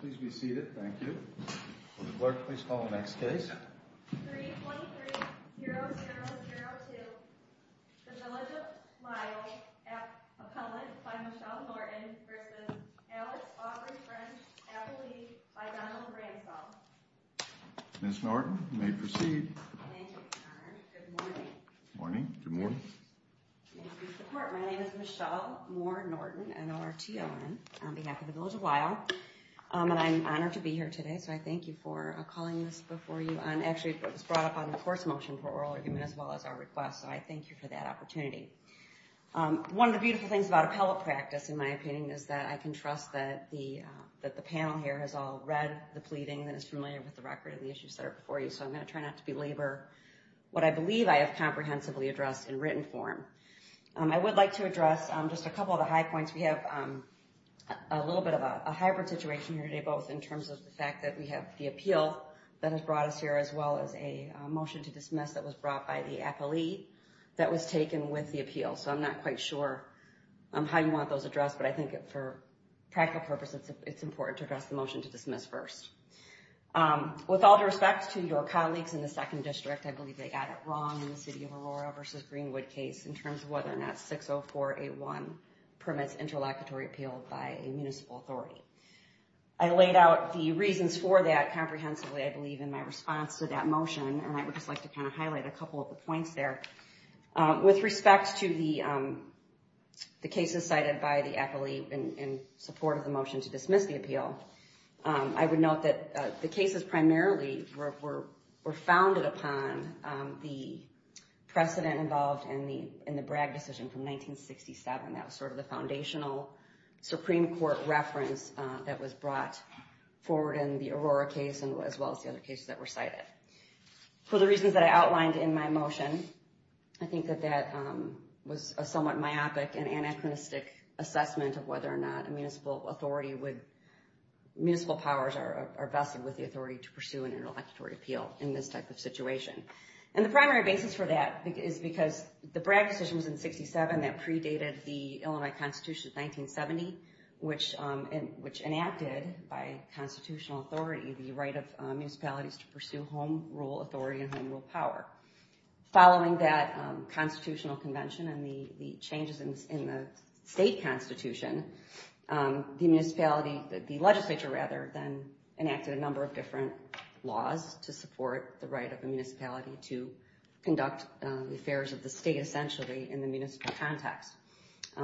Please be seated, thank you. Clerk, please call the next case. 323-0002, the Village of Lisle, appellant by Michelle Norton v. Alex Aubrey French, appellee by Donald Ransdell. Ms. Norton, you may proceed. Thank you, Your Honor. Good morning. Morning. Good morning. My name is Michelle Moore Norton, N-O-R-T-O-N, on behalf of the Village of Lisle. And I'm honored to be here today, so I thank you for calling this before you. Actually, it was brought up on the course motion for oral argument as well as our request, so I thank you for that opportunity. One of the beautiful things about appellate practice, in my opinion, is that I can trust that the panel here has all read the pleading and is familiar with the record of the issues that are before you, so I'm going to try not to belabor what I believe I have comprehensively addressed in written form. I would like to address just a couple of the high points. We have a little bit of a hybrid situation here today, both in terms of the fact that we have the appeal that has brought us here, as well as a motion to dismiss that was brought by the appellee that was taken with the appeal. So I'm not quite sure how you want those addressed, but I think for practical purposes, it's important to address the motion to dismiss first. With all due respect to your colleagues in the second district, I believe they got it wrong in the City of Aurora v. Greenwood case in terms of whether or not 60481 permits interlocutory appeal by a municipal authority. I laid out the reasons for that comprehensively, I believe, in my response to that motion, and I would just like to kind of highlight a couple of the points there. With respect to the cases cited by the appellee in support of the motion to dismiss the appeal, I would note that the cases primarily were founded upon the precedent involved in the Bragg decision from 1967. That was sort of the foundational Supreme Court reference that was brought forward in the Aurora case, as well as the other cases that were cited. For the reasons that I outlined in my motion, I think that that was a somewhat myopic and anachronistic assessment of whether or not a municipal authority would, municipal powers are vested with the authority to pursue an interlocutory appeal in this type of situation. And the primary basis for that is because the Bragg decision was in 67 that predated the Illinois Constitution of 1970, which enacted by constitutional authority the right of municipalities to pursue home rule authority and home rule power. Following that constitutional convention and the changes in the state constitution, the municipality, the legislature rather, then enacted a number of different laws to support the right of the municipality to conduct affairs of the state essentially in the municipal context.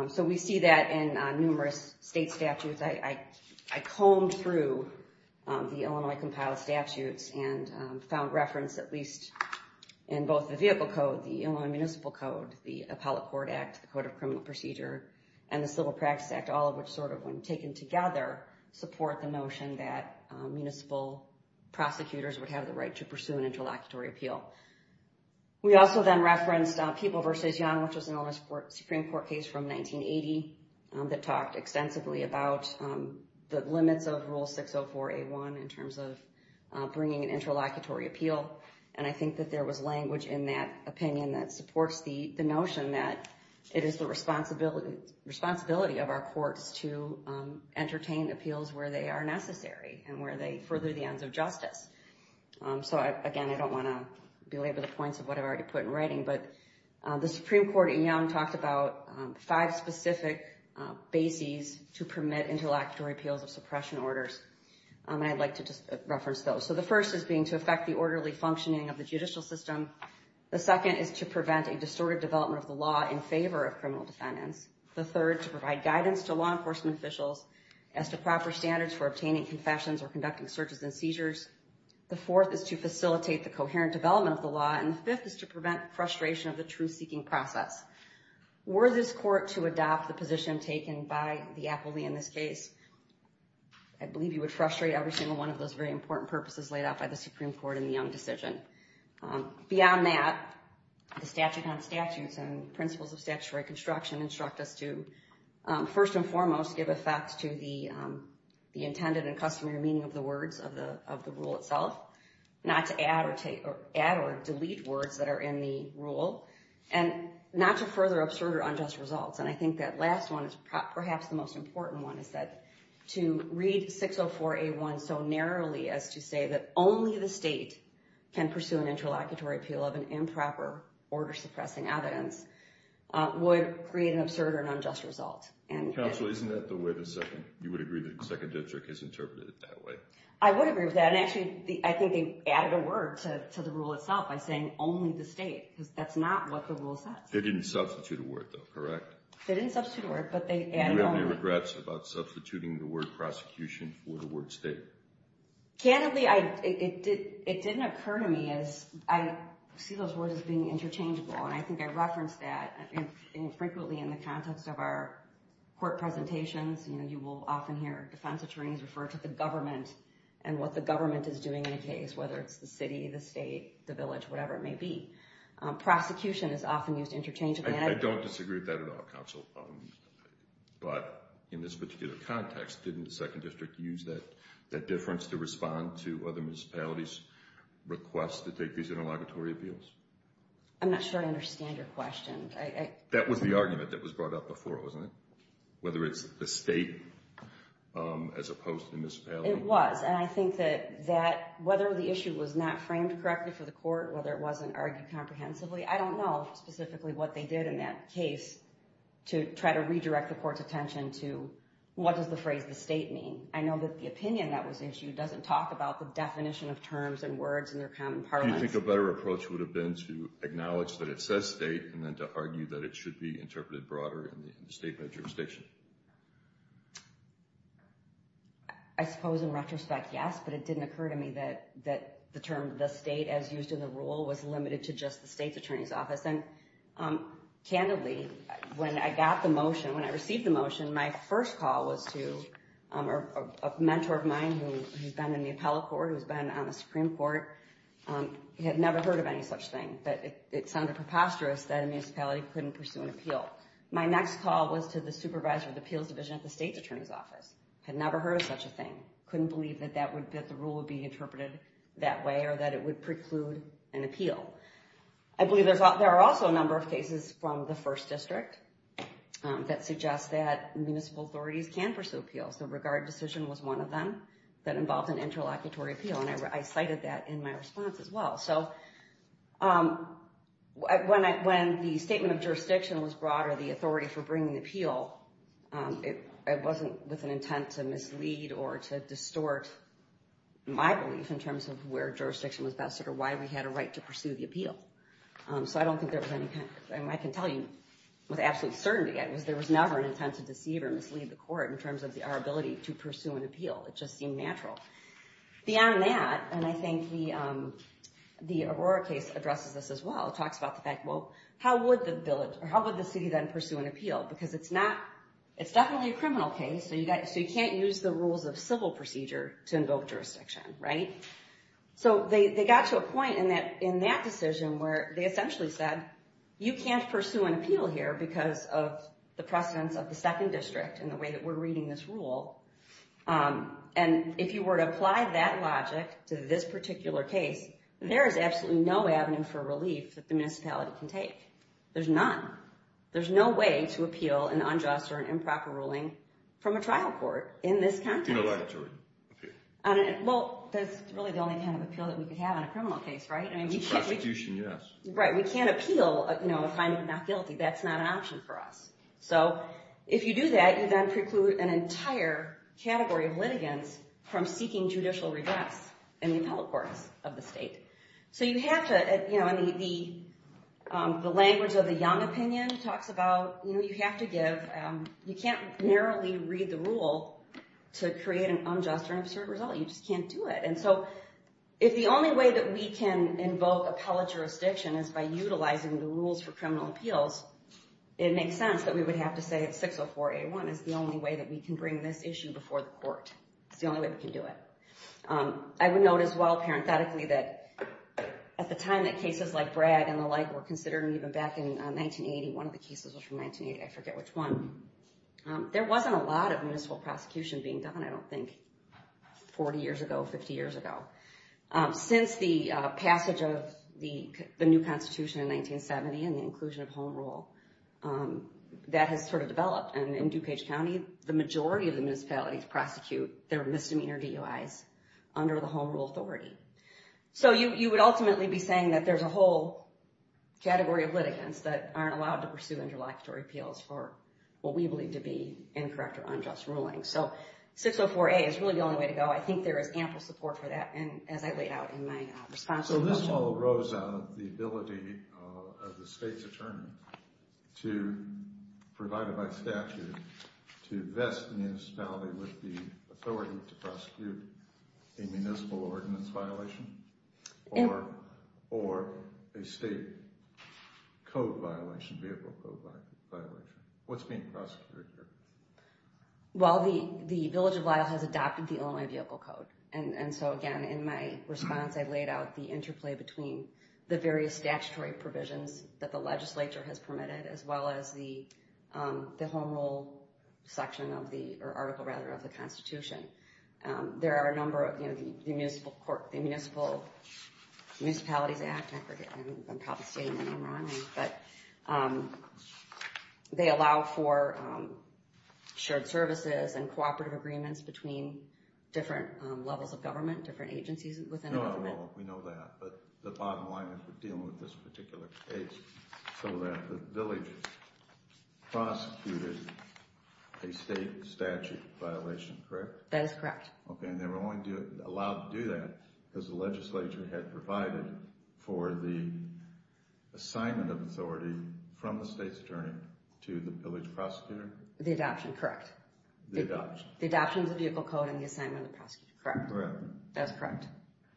So we see that in numerous state statutes. I combed through the Illinois compiled statutes and found reference at least in both the vehicle code, the Illinois Municipal Code, the Appellate Court Act, the Code of Criminal Procedure, and the Civil Practice Act, all of which sort of when taken together support the notion that municipal prosecutors would have the right to pursue an interlocutory appeal. We also then referenced People v. Young, which was an Illinois Supreme Court case from 1980 that talked extensively about the limits of Rule 604A1 in terms of bringing an interlocutory appeal. And I think that there was language in that opinion that supports the notion that it is the responsibility of our courts to entertain appeals where they are necessary and where they further the ends of justice. So, again, I don't want to belabor the points of what I've already put in writing, but the Supreme Court in Young talked about five specific bases to permit interlocutory appeals of suppression orders. And I'd like to just reference those. So the first is being to affect the orderly functioning of the judicial system. The second is to prevent a distorted development of the law in favor of criminal defendants. The third, to provide guidance to law enforcement officials as to proper standards for obtaining confessions or conducting searches and seizures. The fourth is to facilitate the coherent development of the law. And the fifth is to prevent frustration of the truth-seeking process. Were this court to adopt the position taken by the appellee in this case, I believe you would frustrate every single one of those very important purposes laid out by the Supreme Court in the Young decision. Beyond that, the statute on statutes and principles of statutory construction instruct us to, first and foremost, give effect to the intended and customary meaning of the words of the rule itself, not to add or delete words that are in the rule, and not to further absurd or unjust results. And I think that last one is perhaps the most important one, is that to read 604A1 so narrowly as to say that only the state can pursue an interlocutory appeal of an improper order-suppressing evidence would create an absurd or unjust result. Counsel, isn't that the way the Second, you would agree that the Second District has interpreted it that way? I would agree with that, and actually I think they added a word to the rule itself by saying only the state, because that's not what the rule says. They didn't substitute a word, though, correct? They didn't substitute a word, but they added only. Do you have any regrets about substituting the word prosecution for the word state? Candidly, it didn't occur to me as, I see those words as being interchangeable, and I think I referenced that frequently in the context of our court presentations. You will often hear defense attorneys refer to the government and what the government is doing in a case, whether it's the city, the state, the village, whatever it may be. Prosecution is often used interchangeably. I don't disagree with that at all, Counsel, but in this particular context, didn't the Second District use that difference to respond to other municipalities' requests to take these interlocutory appeals? I'm not sure I understand your question. That was the argument that was brought up before, wasn't it? Whether it's the state as opposed to the municipality. It was, and I think that whether the issue was not framed correctly for the court, whether it wasn't argued comprehensively, I don't know specifically what they did in that case to try to redirect the court's attention to, what does the phrase the state mean? I know that the opinion that was issued doesn't talk about the definition of terms and words in their common parlance. Do you think a better approach would have been to acknowledge that it says state and then to argue that it should be interpreted broader in the statement of jurisdiction? I suppose in retrospect, yes, but it didn't occur to me that the term the state as used in the rule was limited to just the state's attorney's office. And candidly, when I got the motion, when I received the motion, my first call was to a mentor of mine who's been in the appellate court, who's been on the Supreme Court. He had never heard of any such thing, but it sounded preposterous that a municipality couldn't pursue an appeal. My next call was to the supervisor of the appeals division at the state's attorney's office. Had never heard of such a thing. Couldn't believe that the rule would be interpreted that way or that it would preclude an appeal. I believe there are also a number of cases from the first district that suggest that municipal authorities can pursue appeals. The regard decision was one of them that involved an interlocutory appeal, and I cited that in my response as well. So when the statement of jurisdiction was brought or the authority for bringing the appeal, it wasn't with an intent to mislead or to distort my belief in terms of where jurisdiction was vested or why we had a right to pursue the appeal. So I don't think there was any kind of, I can tell you with absolute certainty, there was never an intent to deceive or mislead the court in terms of our ability to pursue an appeal. It just seemed natural. Beyond that, and I think the Aurora case addresses this as well, talks about the fact, well, how would the city then pursue an appeal? Because it's not, it's definitely a criminal case, so you can't use the rules of civil procedure to invoke jurisdiction, right? So they got to a point in that decision where they essentially said, you can't pursue an appeal here because of the precedence of the second district and the way that we're reading this rule. And if you were to apply that logic to this particular case, there is absolutely no avenue for relief that the municipality can take. There's none. There's no way to appeal an unjust or an improper ruling from a trial court in this context. In a laboratory, okay. Well, that's really the only kind of appeal that we could have on a criminal case, right? It's a prosecution, yes. Right. We can't appeal a finding of not guilty. That's not an option for us. So if you do that, you then preclude an entire category of litigants from seeking judicial redress in the appellate courts of the state. So you have to, you know, the language of the young opinion talks about, you know, you have to give, you can't narrowly read the rule to create an unjust or an absurd result. You just can't do it. And so if the only way that we can invoke appellate jurisdiction is by utilizing the rules for criminal appeals, it makes sense that we would have to say that 604A1 is the only way that we can bring this issue before the court. It's the only way we can do it. I would note as well, parenthetically, that at the time that cases like Brad and the like were considered, and even back in 1980, one of the cases was from 1980, I forget which one, there wasn't a lot of municipal prosecution being done, I don't think, 40 years ago, 50 years ago. Since the passage of the new constitution in 1970 and the inclusion of home rule, that has sort of developed. And in DuPage County, the majority of the municipalities prosecute their misdemeanor DUIs under the home rule authority. So you would ultimately be saying that there's a whole category of litigants that aren't allowed to pursue interlocutory appeals for what we believe to be incorrect or unjust rulings. So 604A is really the only way to go. I think there is ample support for that. So this all arose out of the ability of the state's attorney, provided by statute, to vest the municipality with the authority to prosecute a municipal ordinance violation or a state code violation, vehicle code violation. What's being prosecuted here? Well, the Village of Lyle has adopted the Illinois Vehicle Code. And so again, in my response, I laid out the interplay between the various statutory provisions that the legislature has permitted, as well as the home rule section of the, or article rather, of the constitution. There are a number of, you know, the Municipalities Act, I forget, I'm probably stating the name wrongly, but they allow for shared services and cooperative agreements between different levels of government, different agencies within the government. We know that, but the bottom line is we're dealing with this particular case, so that the village prosecuted a state statute violation, correct? That is correct. Okay, and they were only allowed to do that because the legislature had provided for the assignment of authority from the state's attorney to the village prosecutor? The adoption, correct. The adoption. The adoption of the vehicle code and the assignment of the prosecutor, correct. Correct. That's correct.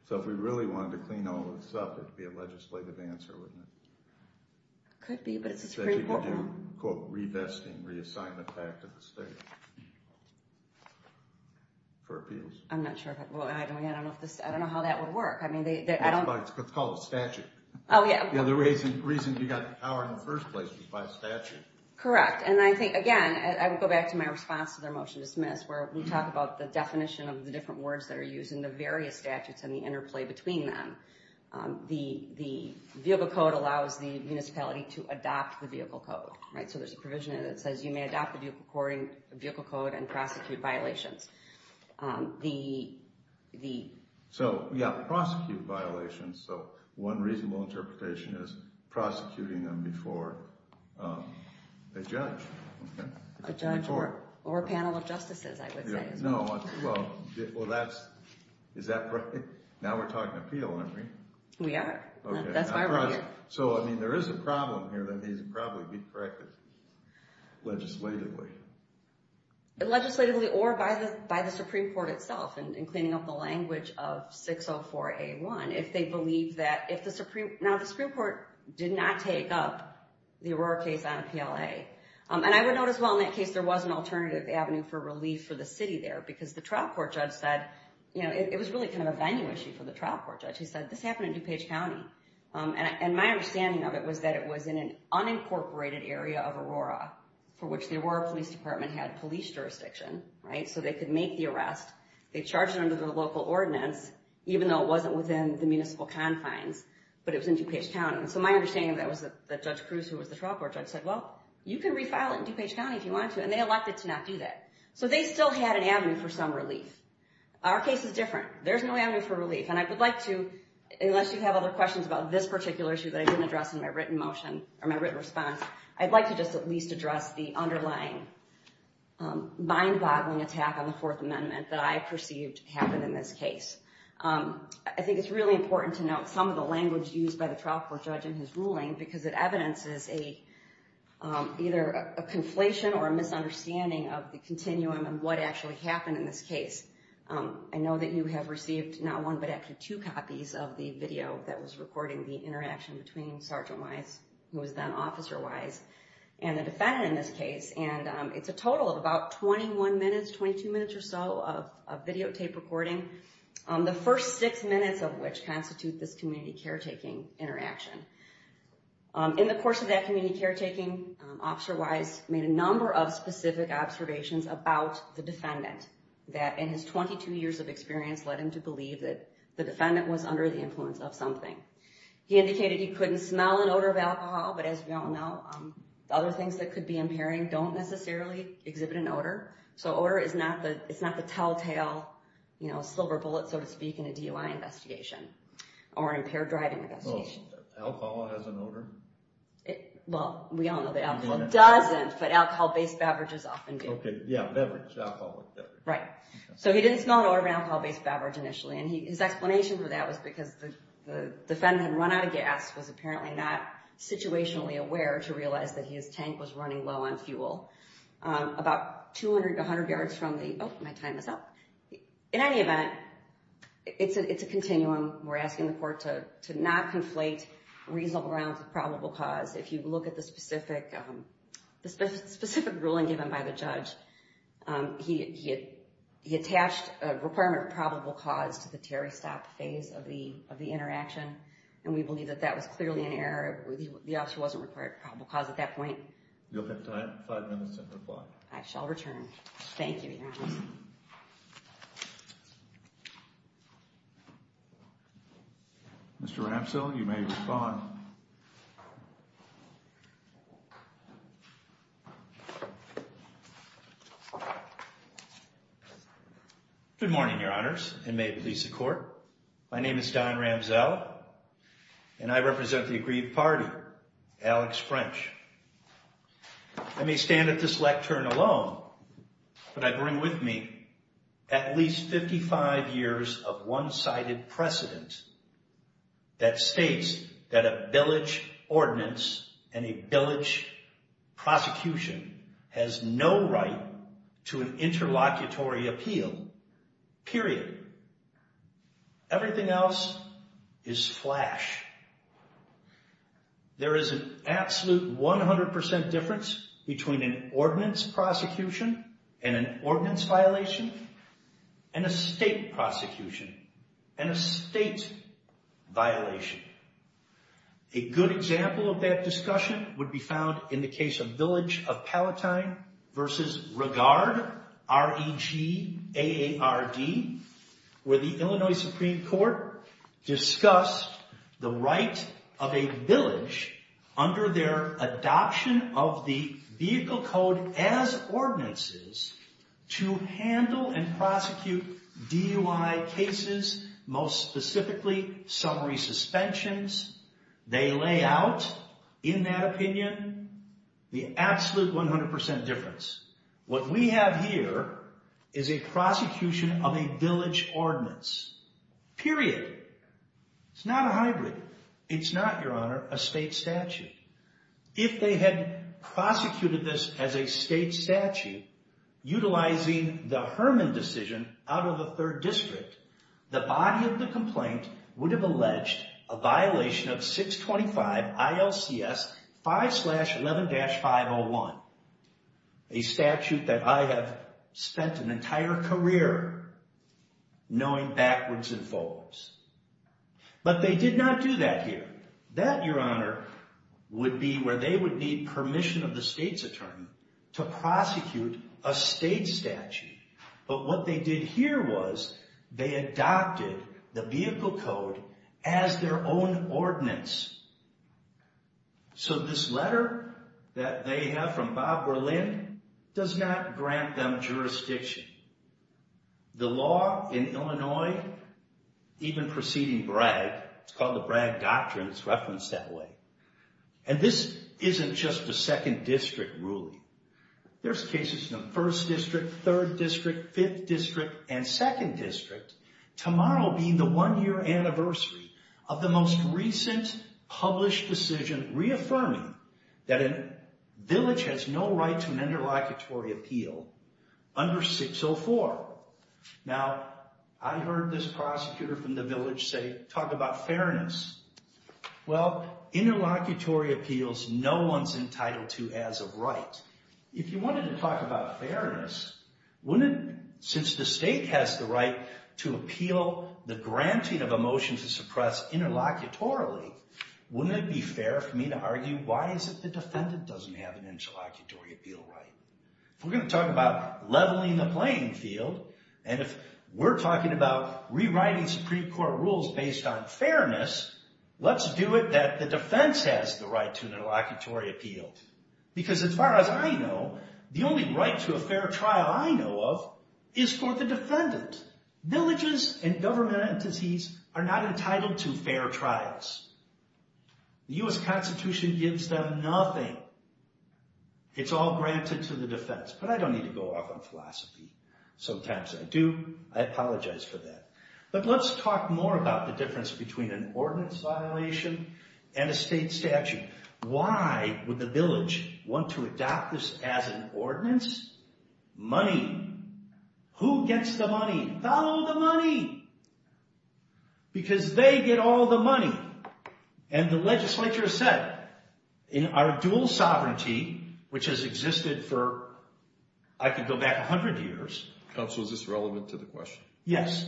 So if we really wanted to clean all this up, it would be a legislative answer, wouldn't it? Could be, but it's pretty important. So you could do, quote, revesting, reassignment back to the state for appeals? I'm not sure, I don't know how that would work. It's called a statute. Oh, yeah. The reason you got the power in the first place was by statute. Correct. And I think, again, I would go back to my response to their motion to dismiss, where we talk about the definition of the different words that are used in the various statutes and the interplay between them. The vehicle code allows the municipality to adopt the vehicle code, right? So there's a provision in it that says you may adopt the vehicle code and prosecute violations. So, yeah, prosecute violations. So one reasonable interpretation is prosecuting them before a judge. A judge or a panel of justices, I would say. Well, is that right? Now we're talking appeal, aren't we? We are. That's my right. So, I mean, there is a problem here that needs to probably be corrected legislatively. Legislatively or by the Supreme Court itself in cleaning up the language of 604A1. Now, the Supreme Court did not take up the Aurora case on PLA. And I would note, as well, in that case, there was an alternative avenue for relief for the city there because the trial court judge said it was really kind of a venue issue for the trial court judge. He said, this happened in DuPage County. And my understanding of it was that it was in an unincorporated area of Aurora for which the Aurora Police Department had police jurisdiction, right, so they could make the arrest. They charged it under the local ordinance, even though it wasn't within the municipal confines, but it was in DuPage County. And so my understanding of that was that Judge Cruz, who was the trial court judge, said, well, you can refile it in DuPage County if you want to. And they elected to not do that. So they still had an avenue for some relief. There's no avenue for relief. And I would like to, unless you have other questions about this particular issue that I didn't address in my written motion or my written response, I'd like to just at least address the underlying mind-boggling attack on the Fourth Amendment that I perceived happened in this case. I think it's really important to note some of the language used by the trial court judge in his ruling because it evidences either a conflation or a misunderstanding of the continuum and what actually happened in this case. I know that you have received not one, but actually two copies of the video that was recording the interaction between Sergeant Wise, who was then Officer Wise, and the defendant in this case. And it's a total of about 21 minutes, 22 minutes or so of videotape recording, the first six minutes of which constitute this community caretaking interaction. In the course of that community caretaking, Officer Wise made a number of specific observations about the defendant that, in his 22 years of experience, led him to believe that the defendant was under the influence of something. He indicated he couldn't smell an odor of alcohol, but as we all know, other things that could be impairing don't necessarily exhibit an odor. So odor is not the telltale silver bullet, so to speak, in a DUI investigation or an impaired driving investigation. Alcohol has an odor? Well, we all know that alcohol doesn't, but alcohol-based beverages often do. Okay, yeah, beverage, alcohol. Right. So he didn't smell an odor of an alcohol-based beverage initially, and his explanation for that was because the defendant had run out of gas, was apparently not situationally aware to realize that his tank was running low on fuel. About 200 to 100 yards from the, oh, my time is up. In any event, it's a continuum. We're asking the court to not conflate reasonable grounds with probable cause. If you look at the specific ruling given by the judge, he attached a requirement of probable cause to the Terry Stop phase of the interaction, and we believe that that was clearly an error. The officer wasn't required probable cause at that point. You'll have five minutes to reply. I shall return. Thank you, Your Honor. Mr. Ramsell, you may respond. Good morning, Your Honors, and may it please the Court. My name is Don Ramsell, and I represent the aggrieved party, Alex French. I may stand at this lectern alone, but I bring with me at least 55 years of one-sided precedent that states that a village ordinance and a village prosecution has no right to an interlocutory appeal, period. Everything else is flash. There is an absolute 100% difference between an ordinance prosecution and an ordinance violation and a state prosecution and a state violation. A good example of that discussion would be found in the case of Village of Palatine v. Regard, R-E-G-A-A-R-D, where the Illinois Supreme Court discussed the right of a village, under their adoption of the vehicle code as ordinances, to handle and prosecute DUI cases, most specifically summary suspensions. They lay out, in that opinion, the absolute 100% difference. What we have here is a prosecution of a village ordinance, period. It's not a hybrid. It's not, Your Honor, a state statute. If they had prosecuted this as a state statute, utilizing the Herman decision out of a third district, the body of the complaint would have alleged a violation of 625 ILCS 5-11-501, a statute that I have spent an entire career knowing backwards and forwards. But they did not do that here. That, Your Honor, would be where they would need permission of the state's attorney to prosecute a state statute. But what they did here was they adopted the vehicle code as their own ordinance. So this letter that they have from Bob Berlin does not grant them jurisdiction. The law in Illinois, even preceding Bragg, it's called the Bragg Doctrine. It's referenced that way. And this isn't just the second district ruling. There's cases in the first district, third district, fifth district, and second district. Tomorrow being the one-year anniversary of the most recent published decision reaffirming that a village has no right to an interlocutory appeal under 604. Now, I heard this prosecutor from the village say, talk about fairness. Well, interlocutory appeals, no one's entitled to as of right. If you wanted to talk about fairness, since the state has the right to appeal the granting of a motion to suppress interlocutorily, wouldn't it be fair for me to argue why is it the defendant doesn't have an interlocutory appeal right? If we're going to talk about leveling the playing field, and if we're talking about rewriting Supreme Court rules based on fairness, let's do it that the defense has the right to an interlocutory appeal. Because as far as I know, the only right to a fair trial I know of is for the defendant. Villages and government entities are not entitled to fair trials. The U.S. Constitution gives them nothing. It's all granted to the defense. But I don't need to go off on philosophy. Sometimes I do. I apologize for that. But let's talk more about the difference between an ordinance violation and a state statute. Why would the village want to adopt this as an ordinance? Money. Who gets the money? Follow the money. Because they get all the money. And the legislature said, in our dual sovereignty, which has existed for, I could go back 100 years. Counsel, is this relevant to the question? Yes.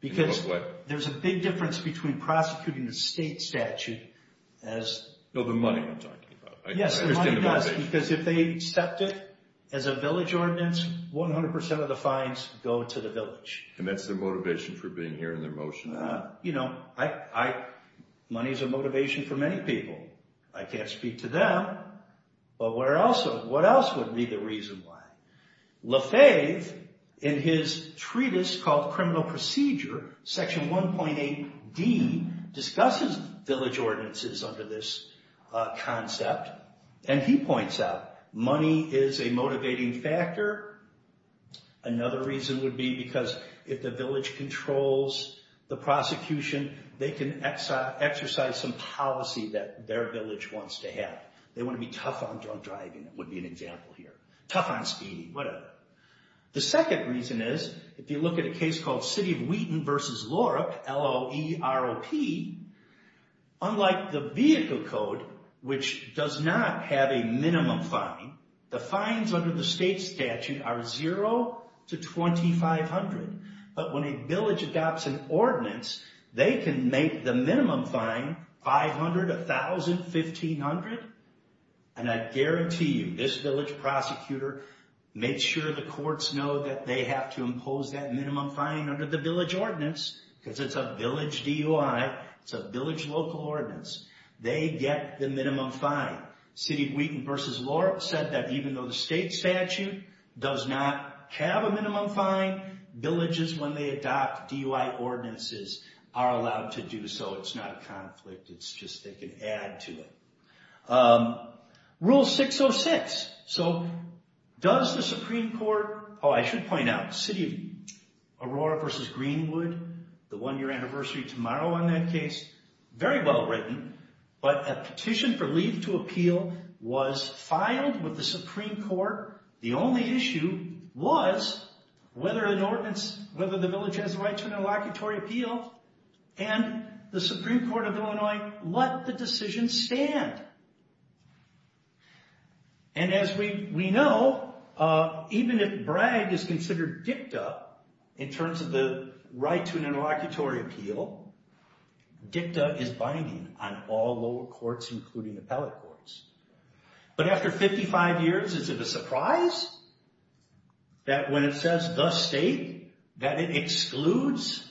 Because there's a big difference between prosecuting the state statute as... No, the money I'm talking about. Yes, the money does. Because if they accept it as a village ordinance, 100% of the fines go to the village. And that's their motivation for being here and their motion? You know, money is a motivation for many people. I can't speak to them. But what else would be the reason why? Lafave, in his treatise called Criminal Procedure, Section 1.8d, discusses village ordinances under this concept. And he points out money is a motivating factor. Another reason would be because if the village controls the prosecution, they can exercise some policy that their village wants to have. They want to be tough on drunk driving, would be an example here. Tough on speeding, whatever. The second reason is, if you look at a case called City of Wheaton v. LORC, L-O-E-R-O-P, unlike the vehicle code, which does not have a minimum fine, the fines under the state statute are zero to 2,500. But when a village adopts an ordinance, they can make the minimum fine 500, 1,000, 1,500. And I guarantee you, this village prosecutor makes sure the courts know that they have to impose that minimum fine under the village ordinance, because it's a village DUI, it's a village local ordinance. They get the minimum fine. City of Wheaton v. LORC said that even though the state statute does not have a minimum fine, villages, when they adopt DUI ordinances, are allowed to do so. It's not a conflict. It's just they can add to it. Rule 606. So, does the Supreme Court, oh, I should point out, City of Aurora v. Greenwood, the one-year anniversary tomorrow on that case, very well written, but a petition for leave to appeal was filed with the Supreme Court. The only issue was whether an ordinance, whether the village has the right to an interlocutory appeal, and the Supreme Court of Illinois let the decision stand. And as we know, even if Bragg is considered dicta in terms of the right to an interlocutory appeal, dicta is binding on all lower courts, including appellate courts. But after 55 years, is it a surprise that when it says the state, that it excludes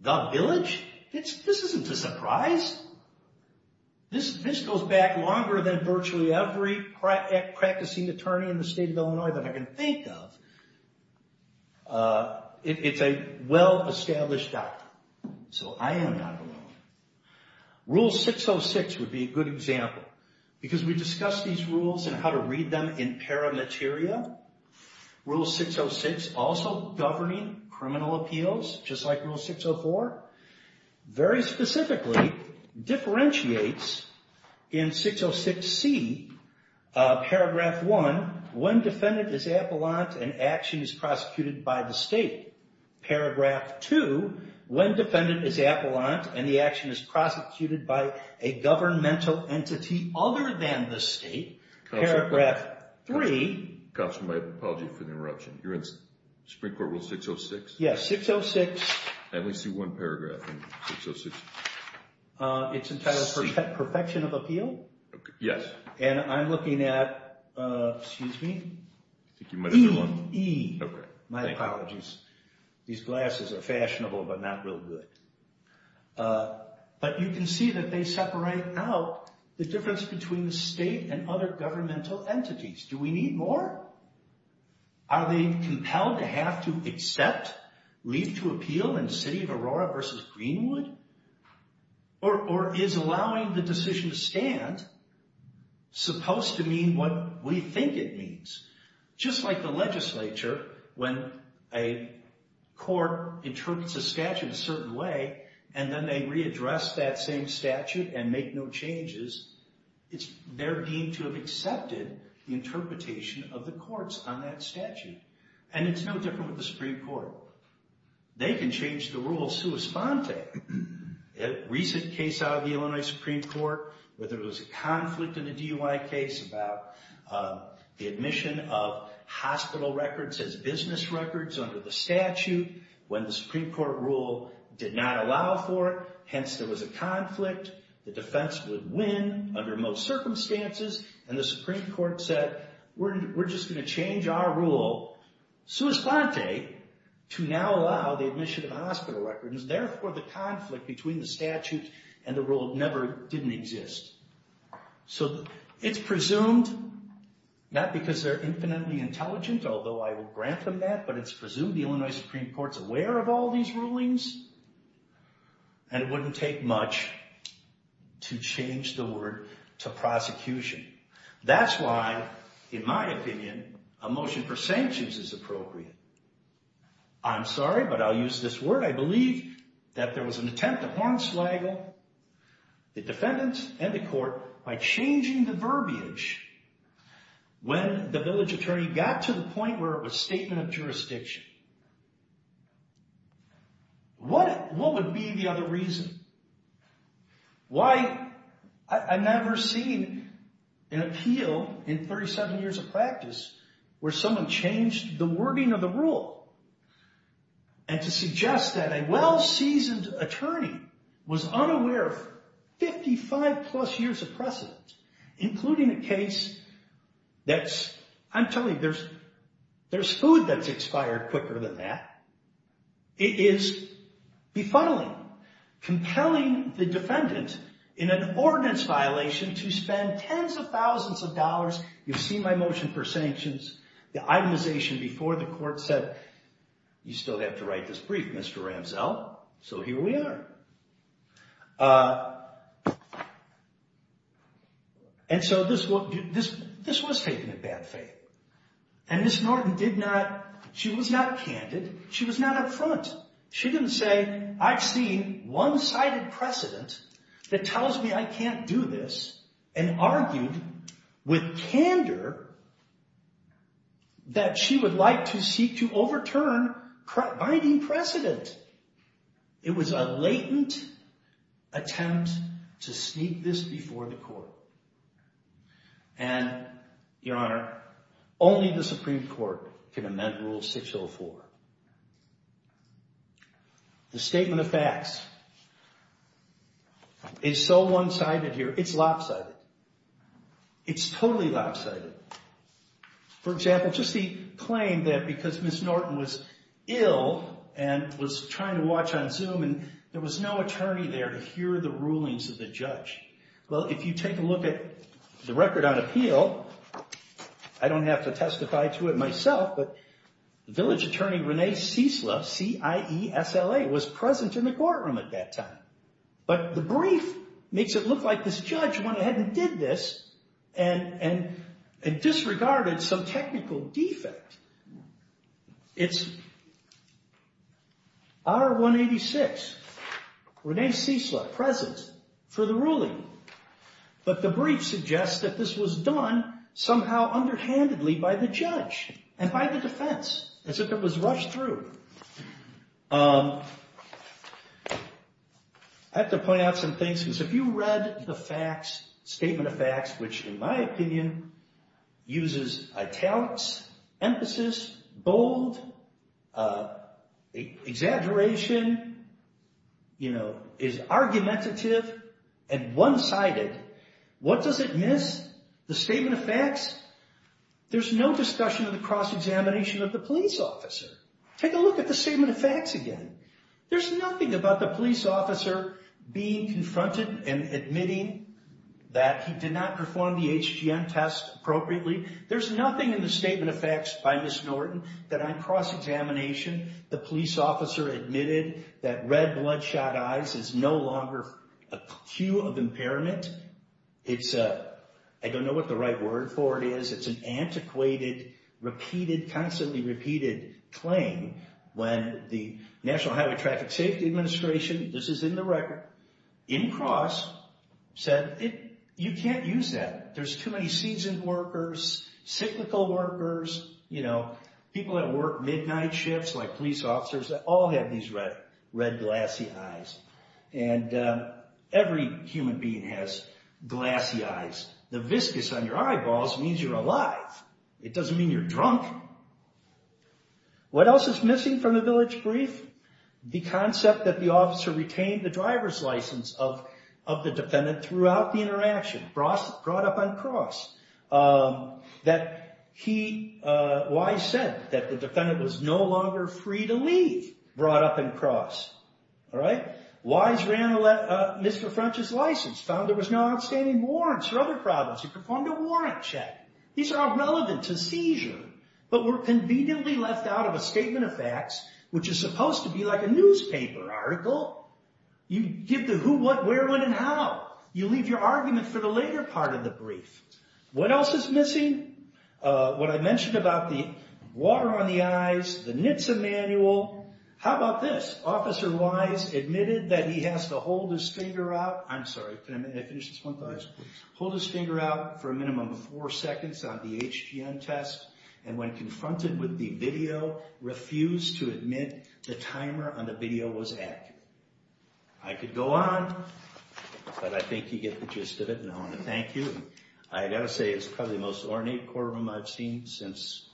the village? This isn't a surprise. This goes back longer than virtually every practicing attorney in the state of Illinois that I can think of. It's a well-established doctrine, so I am not alone. Rule 606 would be a good example, because we discussed these rules and how to read them in paramateria. Rule 606 also governing criminal appeals, just like Rule 604, very specifically differentiates in 606c, paragraph one, when defendant is appellant and action is prosecuted by the state. Paragraph two, when defendant is appellant and the action is prosecuted by a governmental entity other than the state. Paragraph three. Counsel, my apologies for the interruption. You're in Supreme Court Rule 606? Yes, 606. I only see one paragraph in 606c. It's entitled Perfection of Appeal. Yes. And I'm looking at, excuse me, e. Okay. My apologies. These glasses are fashionable, but not real good. But you can see that they separate out the difference between the state and other governmental entities. Do we need more? Are they compelled to have to accept leave to appeal in the city of Aurora versus Greenwood? Or is allowing the decision to stand supposed to mean what we think it means? Just like the legislature, when a court interprets a statute a certain way, and then they readdress that same statute and make no changes, it's their being to have accepted the interpretation of the courts on that statute. And it's no different with the Supreme Court. They can change the rules sua sponte. A recent case out of the Illinois Supreme Court, where there was a conflict in a DUI case about the admission of hospital records as business records under the statute when the Supreme Court rule did not allow for it. Hence, there was a conflict. The defense would win under most circumstances. And the Supreme Court said, we're just going to change our rule sua sponte to now allow the admission of hospital records. Therefore, the conflict between the statute and the rule never didn't exist. So it's presumed, not because they're infinitely intelligent, although I will grant them that, but it's presumed the Illinois Supreme Court's aware of all these rulings, and it wouldn't take much to change the word to prosecution. That's why, in my opinion, a motion for sanctions is appropriate. I'm sorry, but I'll use this word. I believe that there was an attempt to hornswaggle the defendants and the court by changing the verbiage when the village attorney got to the point where it was statement of jurisdiction. What would be the other reason? Why, I've never seen an appeal in 37 years of practice where someone changed the wording of the rule. And to suggest that a well-seasoned attorney was unaware of 55 plus years of precedent, including a case that's, I'm telling you, there's food that's expired quicker than that. It is befuddling, compelling the defendant in an ordinance violation to spend tens of thousands of dollars. You've seen my motion for sanctions. The itemization before the court said, you still have to write this brief, Mr. Ramsell, so here we are. And so this was taken in bad faith. And Ms. Norton did not, she was not candid. She was not up front. She didn't say, I've seen one-sided precedent that tells me I can't do this, and argued with candor that she would like to seek to overturn binding precedent. It was a latent attempt to sneak this before the court. And, Your Honor, only the Supreme Court can amend Rule 604. The statement of facts is so one-sided here, it's lopsided. It's totally lopsided. For example, just the claim that because Ms. Norton was ill and was trying to watch on Zoom, and there was no attorney there to hear the rulings of the judge. Well, if you take a look at the record on appeal, I don't have to testify to it myself, but the village attorney, Renee Ciesla, C-I-E-S-L-A, was present in the courtroom at that time. But the brief makes it look like this judge went ahead and did this and disregarded some technical defect. It's R-186, Renee Ciesla present for the ruling, but the brief suggests that this was done somehow underhandedly by the judge and by the defense, as if it was rushed through. I have to point out some things, because if you read the facts, statement of facts, which in my opinion uses italics, emphasis, bold, exaggeration, is argumentative, and one-sided, what does it miss? The statement of facts? There's no discussion of the cross-examination of the police officer. Take a look at the statement of facts again. There's nothing about the police officer being confronted and admitting that he did not perform the HGM test appropriately. There's nothing in the statement of facts by Ms. Norton that on cross-examination, the police officer admitted that red bloodshot eyes is no longer a cue of impairment. I don't know what the right word for it is. It's an antiquated, repeated, constantly repeated claim when the National Highway Traffic Safety Administration, this is in the record, in cross, said you can't use that. There's too many seasoned workers, cyclical workers, people that work midnight shifts like police officers, that all have these red glassy eyes, and every human being has glassy eyes. The viscous on your eyeballs means you're alive. It doesn't mean you're drunk. What else is missing from the village brief? The concept that the officer retained the driver's license of the defendant throughout the interaction, brought up on cross, that he, Wise said that the defendant was no longer free to leave, brought up on cross. Wise ran Mr. French's license, found there was no outstanding warrants for other problems. He performed a warrant check. These are irrelevant to seizure, but were conveniently left out of a statement of facts, which is supposed to be like a newspaper article. You give the who, what, where, when, and how. You leave your argument for the later part of the brief. What else is missing? What I mentioned about the water on the eyes, the NHTSA manual. How about this? Officer Wise admitted that he has to hold his finger out. I'm sorry, can I finish this one, please? Hold his finger out for a minimum of four seconds on the HGM test, and when confronted with the video, refused to admit the timer on the video was accurate. I could go on, but I think you get the gist of it, and I want to thank you. I've got to say, it's probably the most ornate courtroom I've seen since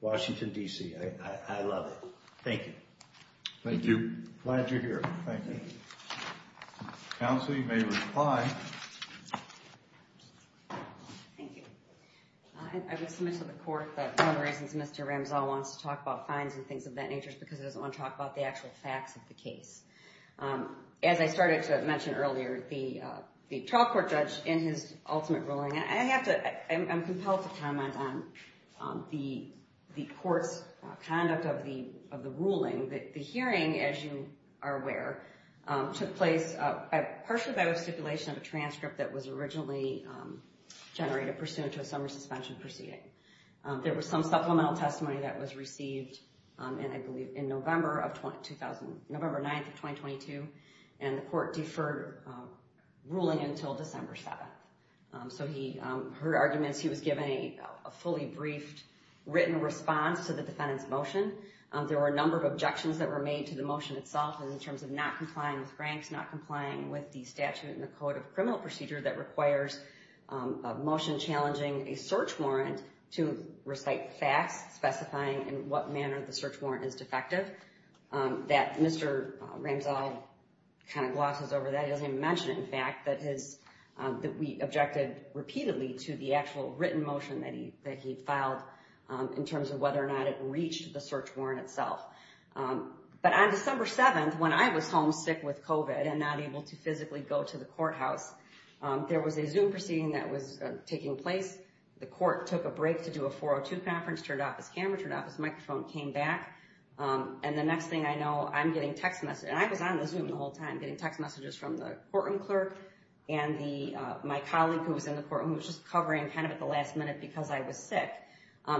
Washington, D.C. I love it. Thank you. Thank you. Glad you're here. Thank you. Counsel, you may reply. Thank you. I was submitted to the court, but one of the reasons Mr. Ramzall wants to talk about fines and things of that nature is because he doesn't want to talk about the actual facts of the case. As I started to mention earlier, the trial court judge in his ultimate ruling, I'm compelled to comment on the court's conduct of the ruling. The hearing, as you are aware, took place partially by the stipulation of a transcript that was originally generated pursuant to a summer suspension proceeding. There was some supplemental testimony that was received, I believe, in November 9, 2022, and the court deferred ruling until December 7. So he heard arguments. He was given a fully briefed written response to the defendant's motion. There were a number of objections that were made to the motion itself in terms of not complying with Franks, not complying with the statute and the code of criminal procedure that requires a motion challenging a search warrant to recite facts specifying in what manner the search warrant is defective. Mr. Ramzall kind of glosses over that. He doesn't even mention it, in fact, that we objected repeatedly to the actual written motion that he filed in terms of whether or not it reached the search warrant itself. But on December 7, when I was home sick with COVID and not able to physically go to the courthouse, there was a Zoom proceeding that was taking place. The court took a break to do a 402 conference, turned off his camera, turned off his microphone, came back, and the next thing I know, I'm getting text messages. And I was on the Zoom the whole time getting text messages from the courtroom clerk and my colleague who was in the courtroom who was just covering kind of at the last minute because I was sick.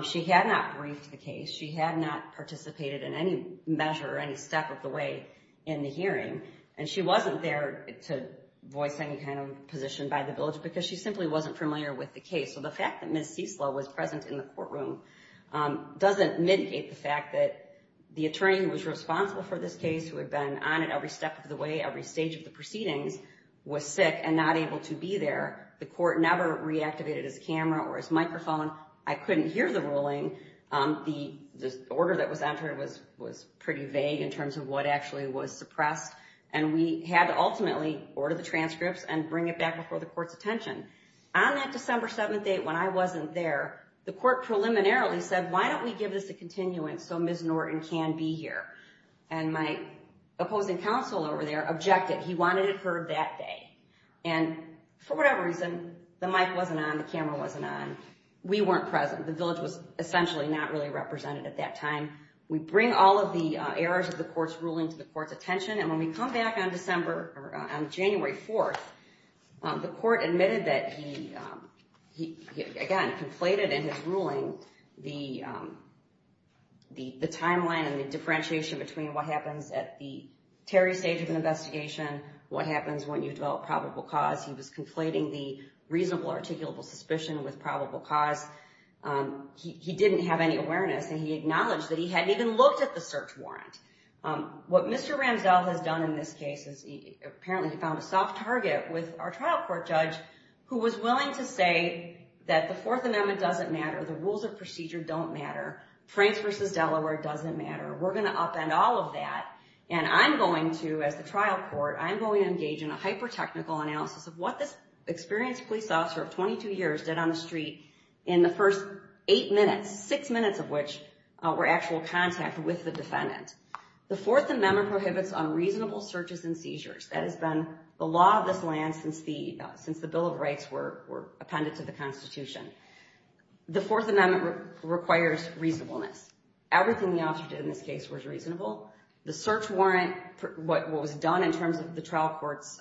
She had not briefed the case. She had not participated in any measure or any step of the way in the hearing. And she wasn't there to voice any kind of position by the village because she simply wasn't familiar with the case. So the fact that Ms. Ciesla was present in the courtroom doesn't mitigate the fact that the attorney who was responsible for this case, who had been on it every step of the way, every stage of the proceedings, was sick and not able to be there. The court never reactivated his camera or his microphone. I couldn't hear the ruling. The order that was entered was pretty vague in terms of what actually was suppressed. And we had to ultimately order the transcripts and bring it back before the court's attention. On that December 7th date when I wasn't there, the court preliminarily said, why don't we give this a continuance so Ms. Norton can be here? And my opposing counsel over there objected. He wanted it heard that day. And for whatever reason, the mic wasn't on, the camera wasn't on. We weren't present. The village was essentially not really represented at that time. We bring all of the errors of the court's ruling to the court's attention. And when we come back on January 4th, the court admitted that he, again, conflated in his ruling the timeline and the differentiation between what happens at the Terry stage of an investigation, what happens when you develop probable cause. He was conflating the reasonable articulable suspicion with probable cause. He didn't have any awareness. And he acknowledged that he hadn't even looked at the search warrant. What Mr. Ramsdell has done in this case is apparently he found a soft target with our trial court judge who was willing to say that the Fourth Amendment doesn't matter, the rules of procedure don't matter, France versus Delaware doesn't matter, we're going to upend all of that, and I'm going to, as the trial court, I'm going to engage in a hyper-technical analysis of what this experienced police officer of 22 years did on the street in the first eight minutes, six minutes of which were actual contact with the defendant. The Fourth Amendment prohibits unreasonable searches and seizures. That has been the law of this land since the Bill of Rights were appended to the Constitution. The Fourth Amendment requires reasonableness. Everything the officer did in this case was reasonable. The search warrant, what was done in terms of the trial court's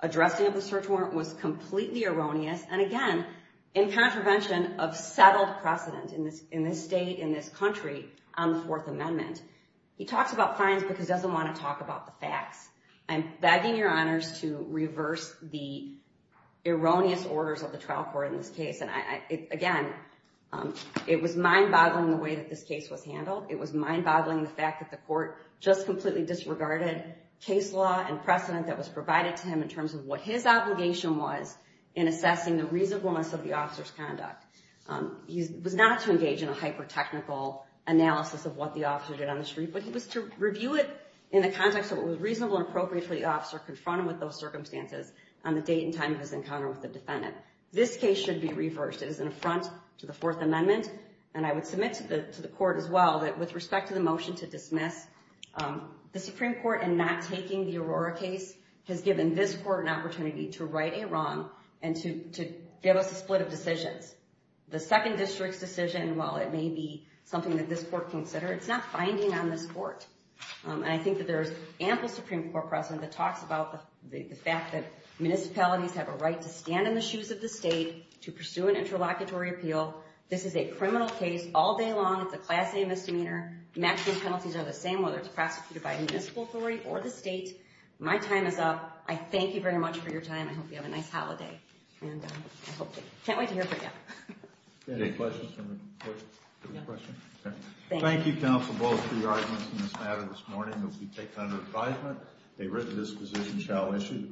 addressing of the search warrant, was completely erroneous and, again, in contravention of settled precedent in this state, in this country, on the Fourth Amendment. He talks about fines because he doesn't want to talk about the facts. I'm begging your honors to reverse the erroneous orders of the trial court in this case. And, again, it was mind-boggling the way that this case was handled. It was mind-boggling the fact that the court just completely disregarded case law and precedent that was provided to him in terms of what his obligation was in assessing the reasonableness of the officer's conduct. He was not to engage in a hyper-technical analysis of what the officer did on the street, but he was to review it in the context of what was reasonable and appropriate for the officer to confront him with those circumstances on the date and time of his encounter with the defendant. This case should be reversed. It is an affront to the Fourth Amendment, and I would submit to the court as well that with respect to the motion to dismiss, the Supreme Court, in not taking the Aurora case, has given this court an opportunity to right a wrong and to give us a split of decisions. The Second District's decision, while it may be something that this court considered, it's not binding on this court, and I think that there is ample Supreme Court precedent that talks about the fact that municipalities have a right to stand in the shoes of the state to pursue an interlocutory appeal. This is a criminal case all day long. It's a Class A misdemeanor. Maximum penalties are the same whether it's prosecuted by a municipal authority or the state. My time is up. I thank you very much for your time. I hope you have a nice holiday, and I can't wait to hear from you. Any questions? Thank you, counsel, both for your arguments in this matter this morning. It will be taken under advisement. A written disposition shall issue.